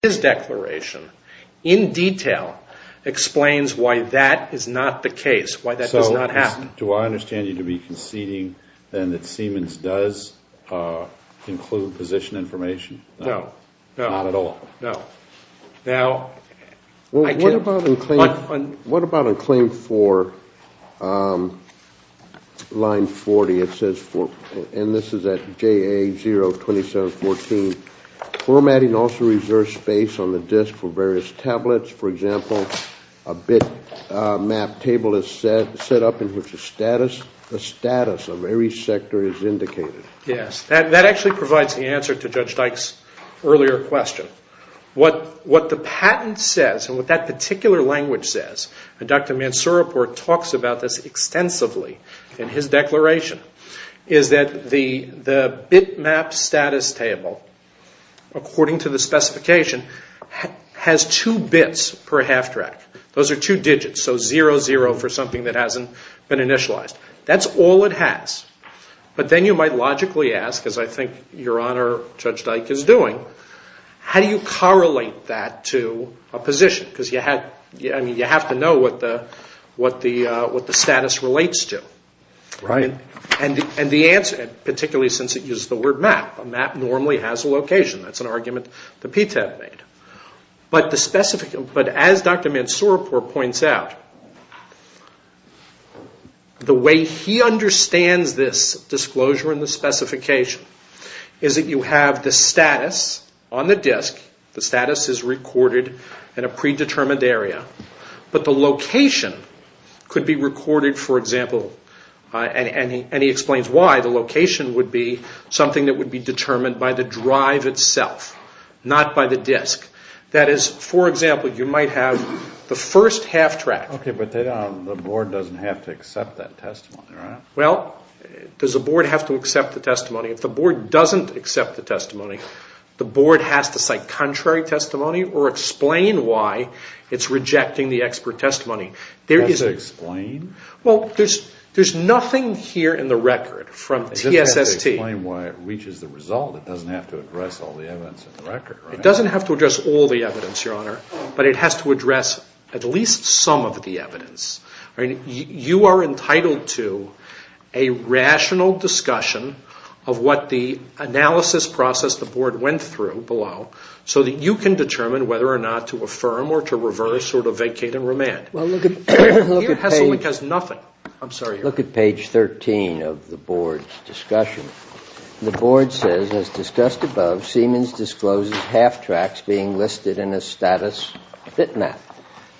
His declaration, in detail, explains why that is not the case, why that does not happen. So do I understand you to be conceding then that Siemens does include position information? No. Not at all? No. What about in claim 4, line 40, it says, and this is at JA02714, formatting also reserves space on the disk for various tablets. For example, a bit map table is set up in which the status of every sector is indicated. Yes. That actually provides the answer to Judge Dyke's earlier question. What the patent says, and what that particular language says, and Dr. Mansurapur talks about this extensively in his declaration, is that the bit map status table, according to the specification, has two bits per half track. Those are two digits, so 00 for something that hasn't been initialized. That's all it has. But then you might logically ask, as I think Your Honor, Judge Dyke is doing, how do you correlate that to a position? Because you have to know what the status relates to. Right. And the answer, particularly since it uses the word map, a map normally has a location. That's an argument that Pete had made. But as Dr. Mansurapur points out, the way he understands this disclosure and the specification is that you have the status on the disk, the status is recorded in a predetermined area, but the location could be recorded, for example, and he explains why the location would be something that would be determined by the drive itself, not by the disk. That is, for example, you might have the first half track. Okay, but the board doesn't have to accept that testimony, right? Well, does the board have to accept the testimony? If the board doesn't accept the testimony, the board has to cite contrary testimony or explain why it's rejecting the expert testimony. It has to explain? Well, there's nothing here in the record from TSST. It doesn't have to explain why it reaches the result. It doesn't have to address all the evidence in the record, right? It doesn't have to address all the evidence, Your Honor, but it has to address at least some of the evidence. You are entitled to a rational discussion of what the analysis process the board went through below so that you can determine whether or not to affirm or to reverse or to vacate and remand. Well, look at page 13 of the board's discussion. The board says, as discussed above, Siemens discloses half tracks being listed in a status fit map.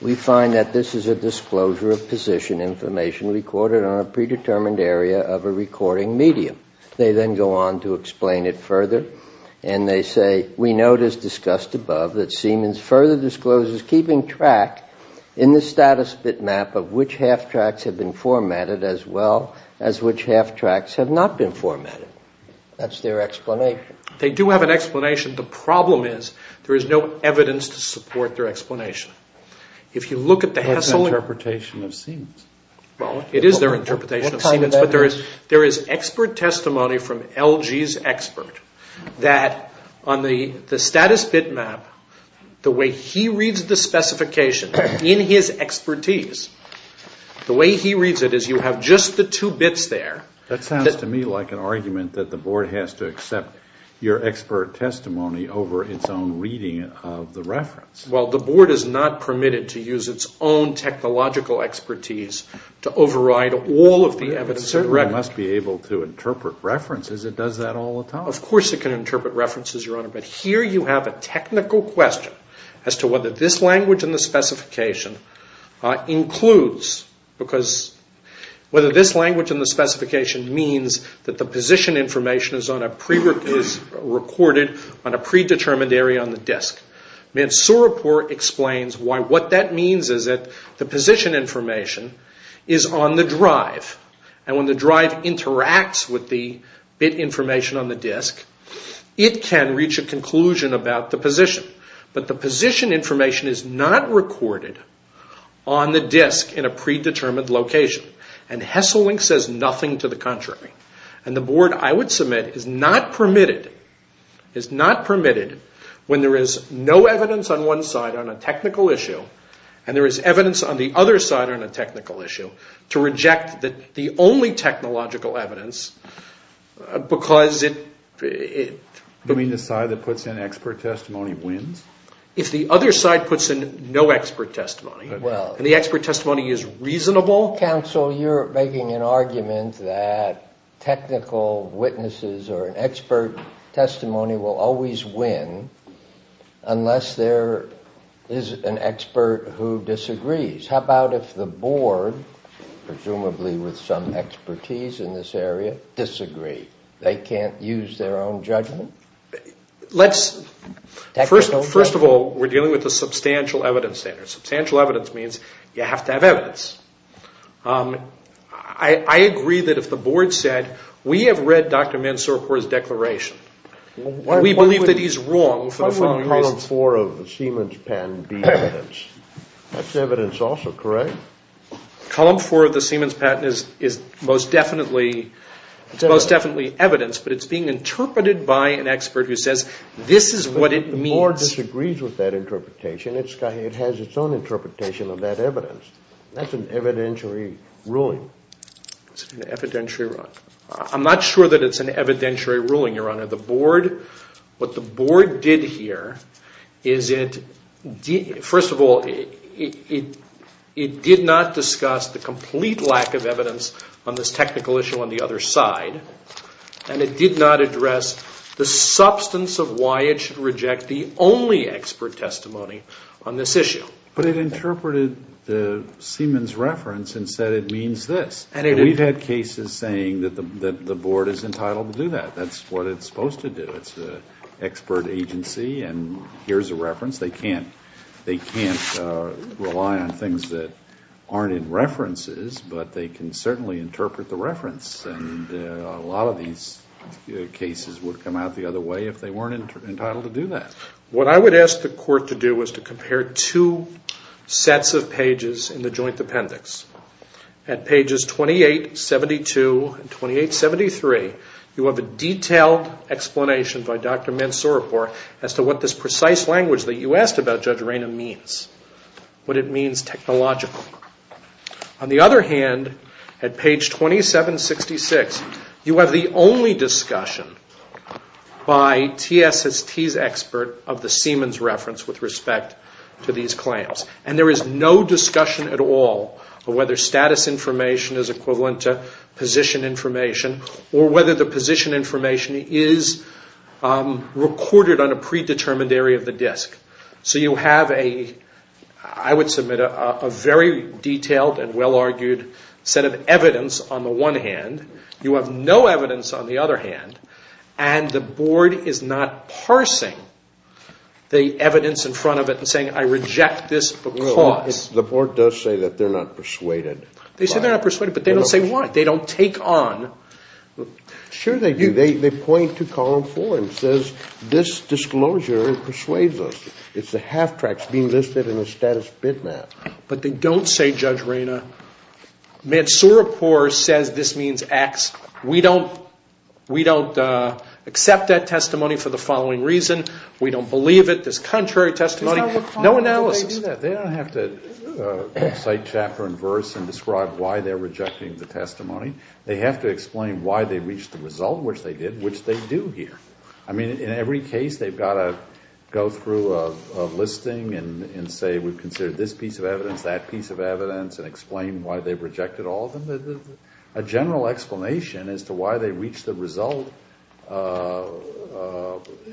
We find that this is a disclosure of position information recorded on a predetermined area of a recording medium. They then go on to explain it further, and they say, as discussed above, that Siemens further discloses keeping track in the status fit map of which half tracks have been formatted as well as which half tracks have not been formatted. That's their explanation. They do have an explanation. The problem is there is no evidence to support their explanation. If you look at the hassle of the interpretation of Siemens, well, it is their interpretation of Siemens, but there is expert testimony from LG's expert that on the status fit map, the way he reads the specification in his expertise, the way he reads it is you have just the two bits there. That sounds to me like an argument that the board has to accept your expert testimony over its own reading of the reference. Well, the board is not permitted to use its own technological expertise to override all of the evidence. It must be able to interpret references. It does that all the time. Of course it can interpret references, Your Honor, but here you have a technical question as to whether this language in the specification includes, because whether this language in the specification means that the position information is recorded on a predetermined area on the disk. Mansouripour explains what that means is that the position information is on the drive, and when the drive interacts with the bit information on the disk, it can reach a conclusion about the position. But the position information is not recorded on the disk in a predetermined location, and Hesselink says nothing to the contrary. And the board, I would submit, is not permitted when there is no evidence on one side on a technical issue and there is evidence on the other side on a technical issue to reject the only technological evidence because it... You mean the side that puts in expert testimony wins? If the other side puts in no expert testimony and the expert testimony is reasonable... technical witnesses or an expert testimony will always win unless there is an expert who disagrees. How about if the board, presumably with some expertise in this area, disagrees? They can't use their own judgment? Let's... First of all, we're dealing with a substantial evidence standard. Substantial evidence means you have to have evidence. I agree that if the board said, we have read Dr. Mansour Khor's declaration. We believe that he's wrong for the following reasons. Why wouldn't Column 4 of the Siemens patent be evidence? That's evidence also, correct? Column 4 of the Siemens patent is most definitely evidence, but it's being interpreted by an expert who says, this is what it means. The board disagrees with that interpretation. It has its own interpretation of that evidence. That's an evidentiary ruling. It's an evidentiary ruling. I'm not sure that it's an evidentiary ruling, Your Honor. The board... What the board did here is it... First of all, it did not discuss the complete lack of evidence on this technical issue on the other side, and it did not address the substance of why it should reject the only expert testimony on this issue. But it interpreted the Siemens reference and said it means this. We've had cases saying that the board is entitled to do that. That's what it's supposed to do. It's an expert agency, and here's a reference. They can't rely on things that aren't in references, but they can certainly interpret the reference, and a lot of these cases would come out the other way if they weren't entitled to do that. What I would ask the court to do is to compare two sets of pages in the joint appendix. At pages 2872 and 2873, you have a detailed explanation by Dr. Mansooripour as to what this precise language that you asked about, Judge Reyna, means, what it means technologically. On the other hand, at page 2766, you have the only discussion by TSST's expert of the Siemens reference with respect to these claims. And there is no discussion at all of whether status information is equivalent to position information or whether the position information is recorded on a predetermined area of the disk. So you have a, I would submit, a very detailed and well-argued set of evidence on the one hand. You have no evidence on the other hand, and the board is not parsing the evidence in front of it and saying, I reject this because. The board does say that they're not persuaded. They say they're not persuaded, but they don't say why. They don't take on. Sure they do. They point to column four and it says, this disclosure persuades us. It's the half-tracks being listed in the status bitmap. But they don't say, Judge Reyna, Mansooripour says this means X. We don't accept that testimony for the following reason. We don't believe it. This contrary testimony. No analysis. They don't have to cite chapter and verse and describe why they're rejecting the testimony. They have to explain why they reached the result, which they did, which they do here. I mean, in every case they've got to go through a listing and say we've considered this piece of evidence, that piece of evidence, and explain why they've rejected all of them. A general explanation as to why they reached the result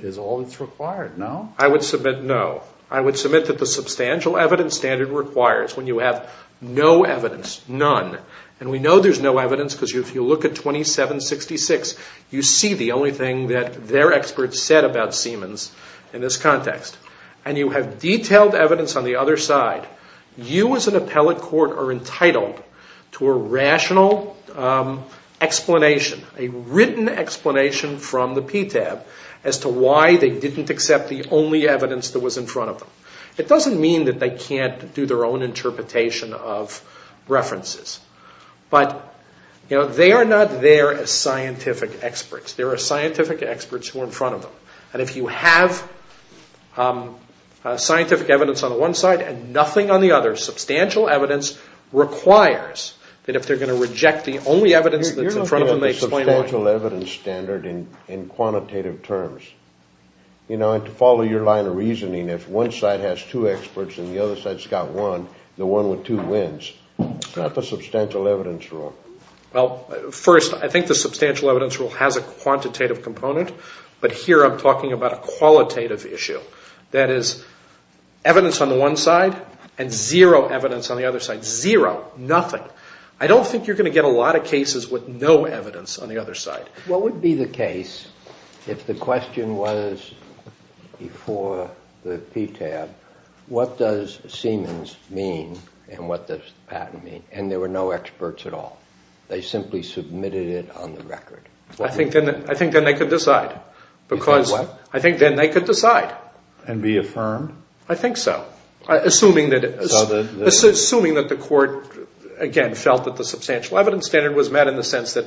is all that's required, no? I would submit no. I would submit that the substantial evidence standard requires when you have no evidence, none, and we know there's no evidence because if you look at 2766, you see the only thing that their experts said about Siemens in this context, and you have detailed evidence on the other side, you as an appellate court are entitled to a rational explanation, a written explanation from the PTAB as to why they didn't accept the only evidence that was in front of them. It doesn't mean that they can't do their own interpretation of references, but they are not there as scientific experts. There are scientific experts who are in front of them, and if you have scientific evidence on the one side and nothing on the other, substantial evidence requires that if they're going to reject the only evidence that's in front of them, they explain why. You're not doing the substantial evidence standard in quantitative terms. You know, and to follow your line of reasoning, if one side has two experts and the other side's got one, the one with two wins. It's not the substantial evidence rule. Well, first, I think the substantial evidence rule has a quantitative component, but here I'm talking about a qualitative issue. That is, evidence on the one side and zero evidence on the other side, zero, nothing. I don't think you're going to get a lot of cases with no evidence on the other side. What would be the case if the question was, before the PTAB, what does Siemens mean and what does the patent mean, and there were no experts at all? They simply submitted it on the record. I think then they could decide. You think what? I think then they could decide. And be affirmed? I think so, assuming that the court, again, felt that the substantial evidence standard was met in the sense that,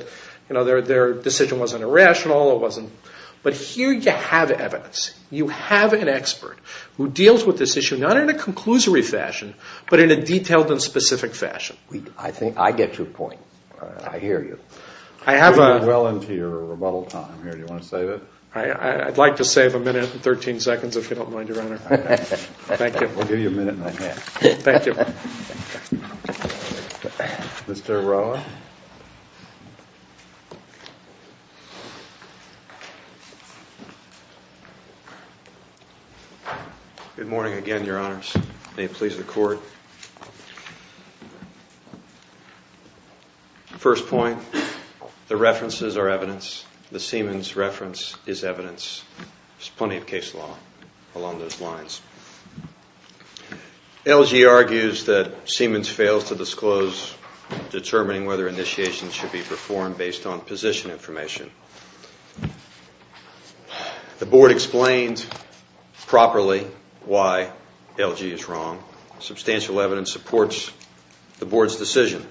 you know, their decision wasn't irrational. But here you have evidence. You have an expert who deals with this issue, not in a conclusory fashion, but in a detailed and specific fashion. I think I get your point. I hear you. You're well into your rebuttal time here. Do you want to save it? I'd like to save a minute and 13 seconds, if you don't mind, Your Honor. Thank you. We'll give you a minute and a half. Thank you. Mr. Arroyo. Good morning again, Your Honors. May it please the court. First point, the references are evidence. The Siemens reference is evidence. There's plenty of case law along those lines. LG argues that Siemens fails to disclose determining whether initiations should be performed based on position information. The board explained properly why LG is wrong. Substantial evidence supports the board's decision.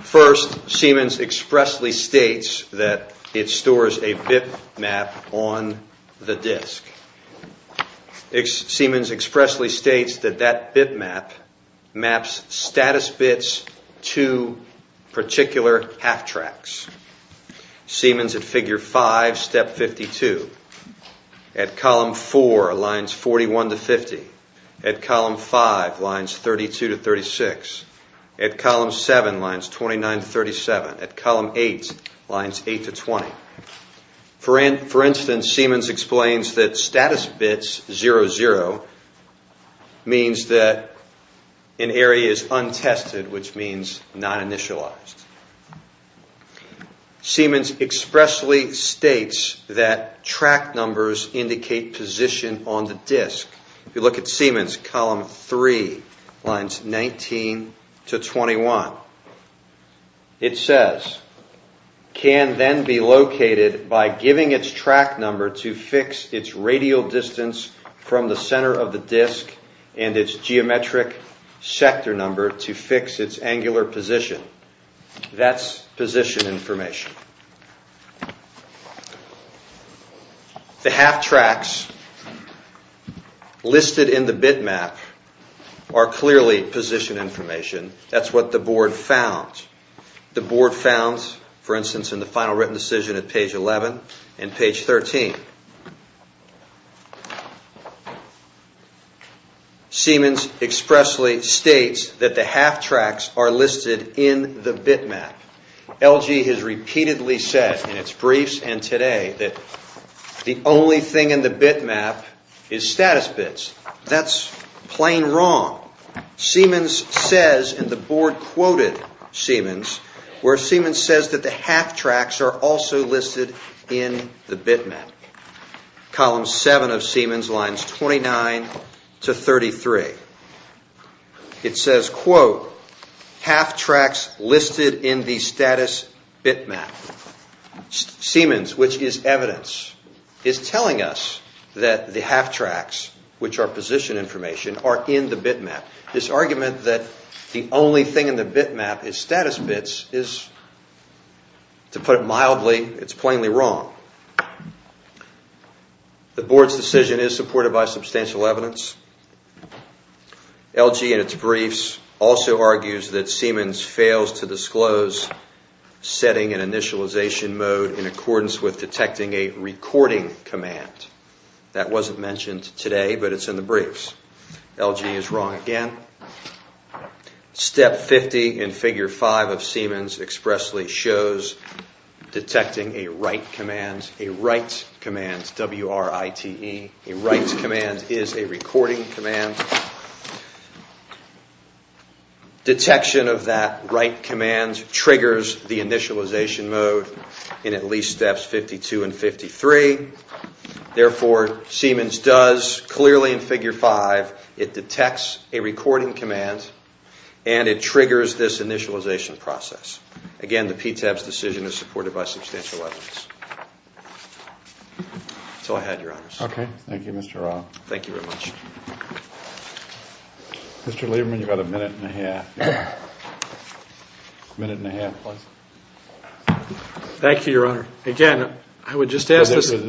First, Siemens expressly states that it stores a BIP map on the disk. Siemens expressly states that that BIP map maps status bits to particular half tracks. Siemens at Figure 5, Step 52. At Column 4, Lines 41 to 50. At Column 5, Lines 32 to 36. At Column 7, Lines 29 to 37. At Column 8, Lines 8 to 20. For instance, Siemens explains that status bits 00 means that an area is untested, which means non-initialized. Siemens expressly states that track numbers indicate position on the disk. If you look at Siemens, Column 3, Lines 19 to 21. It says, can then be located by giving its track number to fix its radial distance from the center of the disk and its geometric sector number to fix its angular position. That's position information. The half tracks listed in the BIP map are clearly position information. That's what the board found. The board found, for instance, in the final written decision at page 11 and page 13. Siemens expressly states that the half tracks are listed in the BIP map. LG has repeatedly said in its briefs and today that the only thing in the BIP map is status bits. That's plain wrong. Siemens says, and the board quoted Siemens, where Siemens says that the half tracks are also listed in the BIP map. Column 7 of Siemens, Lines 29 to 33. It says, quote, half tracks listed in the status BIP map. Siemens, which is evidence, is telling us that the half tracks, which are position information, are in the BIP map. This argument that the only thing in the BIP map is status bits is, to put it mildly, it's plainly wrong. The board's decision is supported by substantial evidence. LG, in its briefs, also argues that Siemens fails to disclose setting an initialization mode in accordance with detecting a recording command. That wasn't mentioned today, but it's in the briefs. LG is wrong again. Step 50 in Figure 5 of Siemens expressly shows detecting a write command, a write command, W-R-I-T-E. A write command is a recording command. Detection of that write command triggers the initialization mode in at least steps 52 and 53. Therefore, Siemens does clearly in Figure 5, it detects a recording command, and it triggers this initialization process. Again, the PTAB's decision is supported by substantial evidence. That's all I had, Your Honor. Okay. Thank you, Mr. Rao. Thank you very much. Mr. Lieberman, you've got a minute and a half. A minute and a half plus. Thank you, Your Honor. Again, I would just ask this... How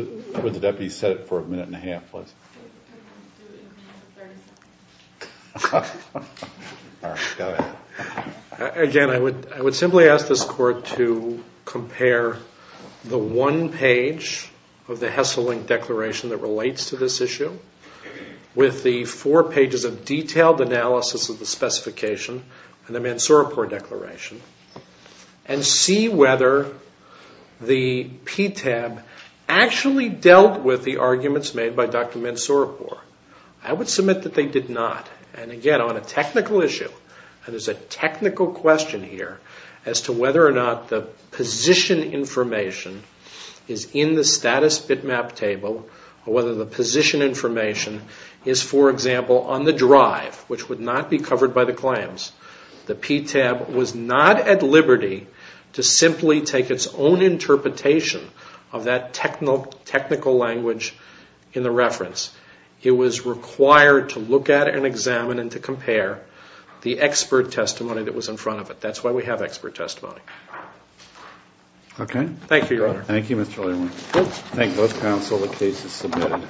would the deputy set it for a minute and a half plus? All right. Go ahead. Again, I would simply ask this Court to compare the one page of the Hesselink Declaration that relates to this issue with the four pages of detailed analysis of the specification in the Mansourpour Declaration and see whether the PTAB actually dealt with the arguments made by Dr. Mansourpour. I would submit that they did not. Again, on a technical issue, and there's a technical question here as to whether or not the position information is in the status bitmap table or whether the position information is, for example, on the drive, which would not be covered by the claims. The PTAB was not at liberty to simply take its own interpretation of that technical language in the reference. It was required to look at it and examine it and to compare the expert testimony that was in front of it. That's why we have expert testimony. Okay. Thank you, Your Honor. Thank you, Mr. Leary. Thank both counsel. The case is submitted.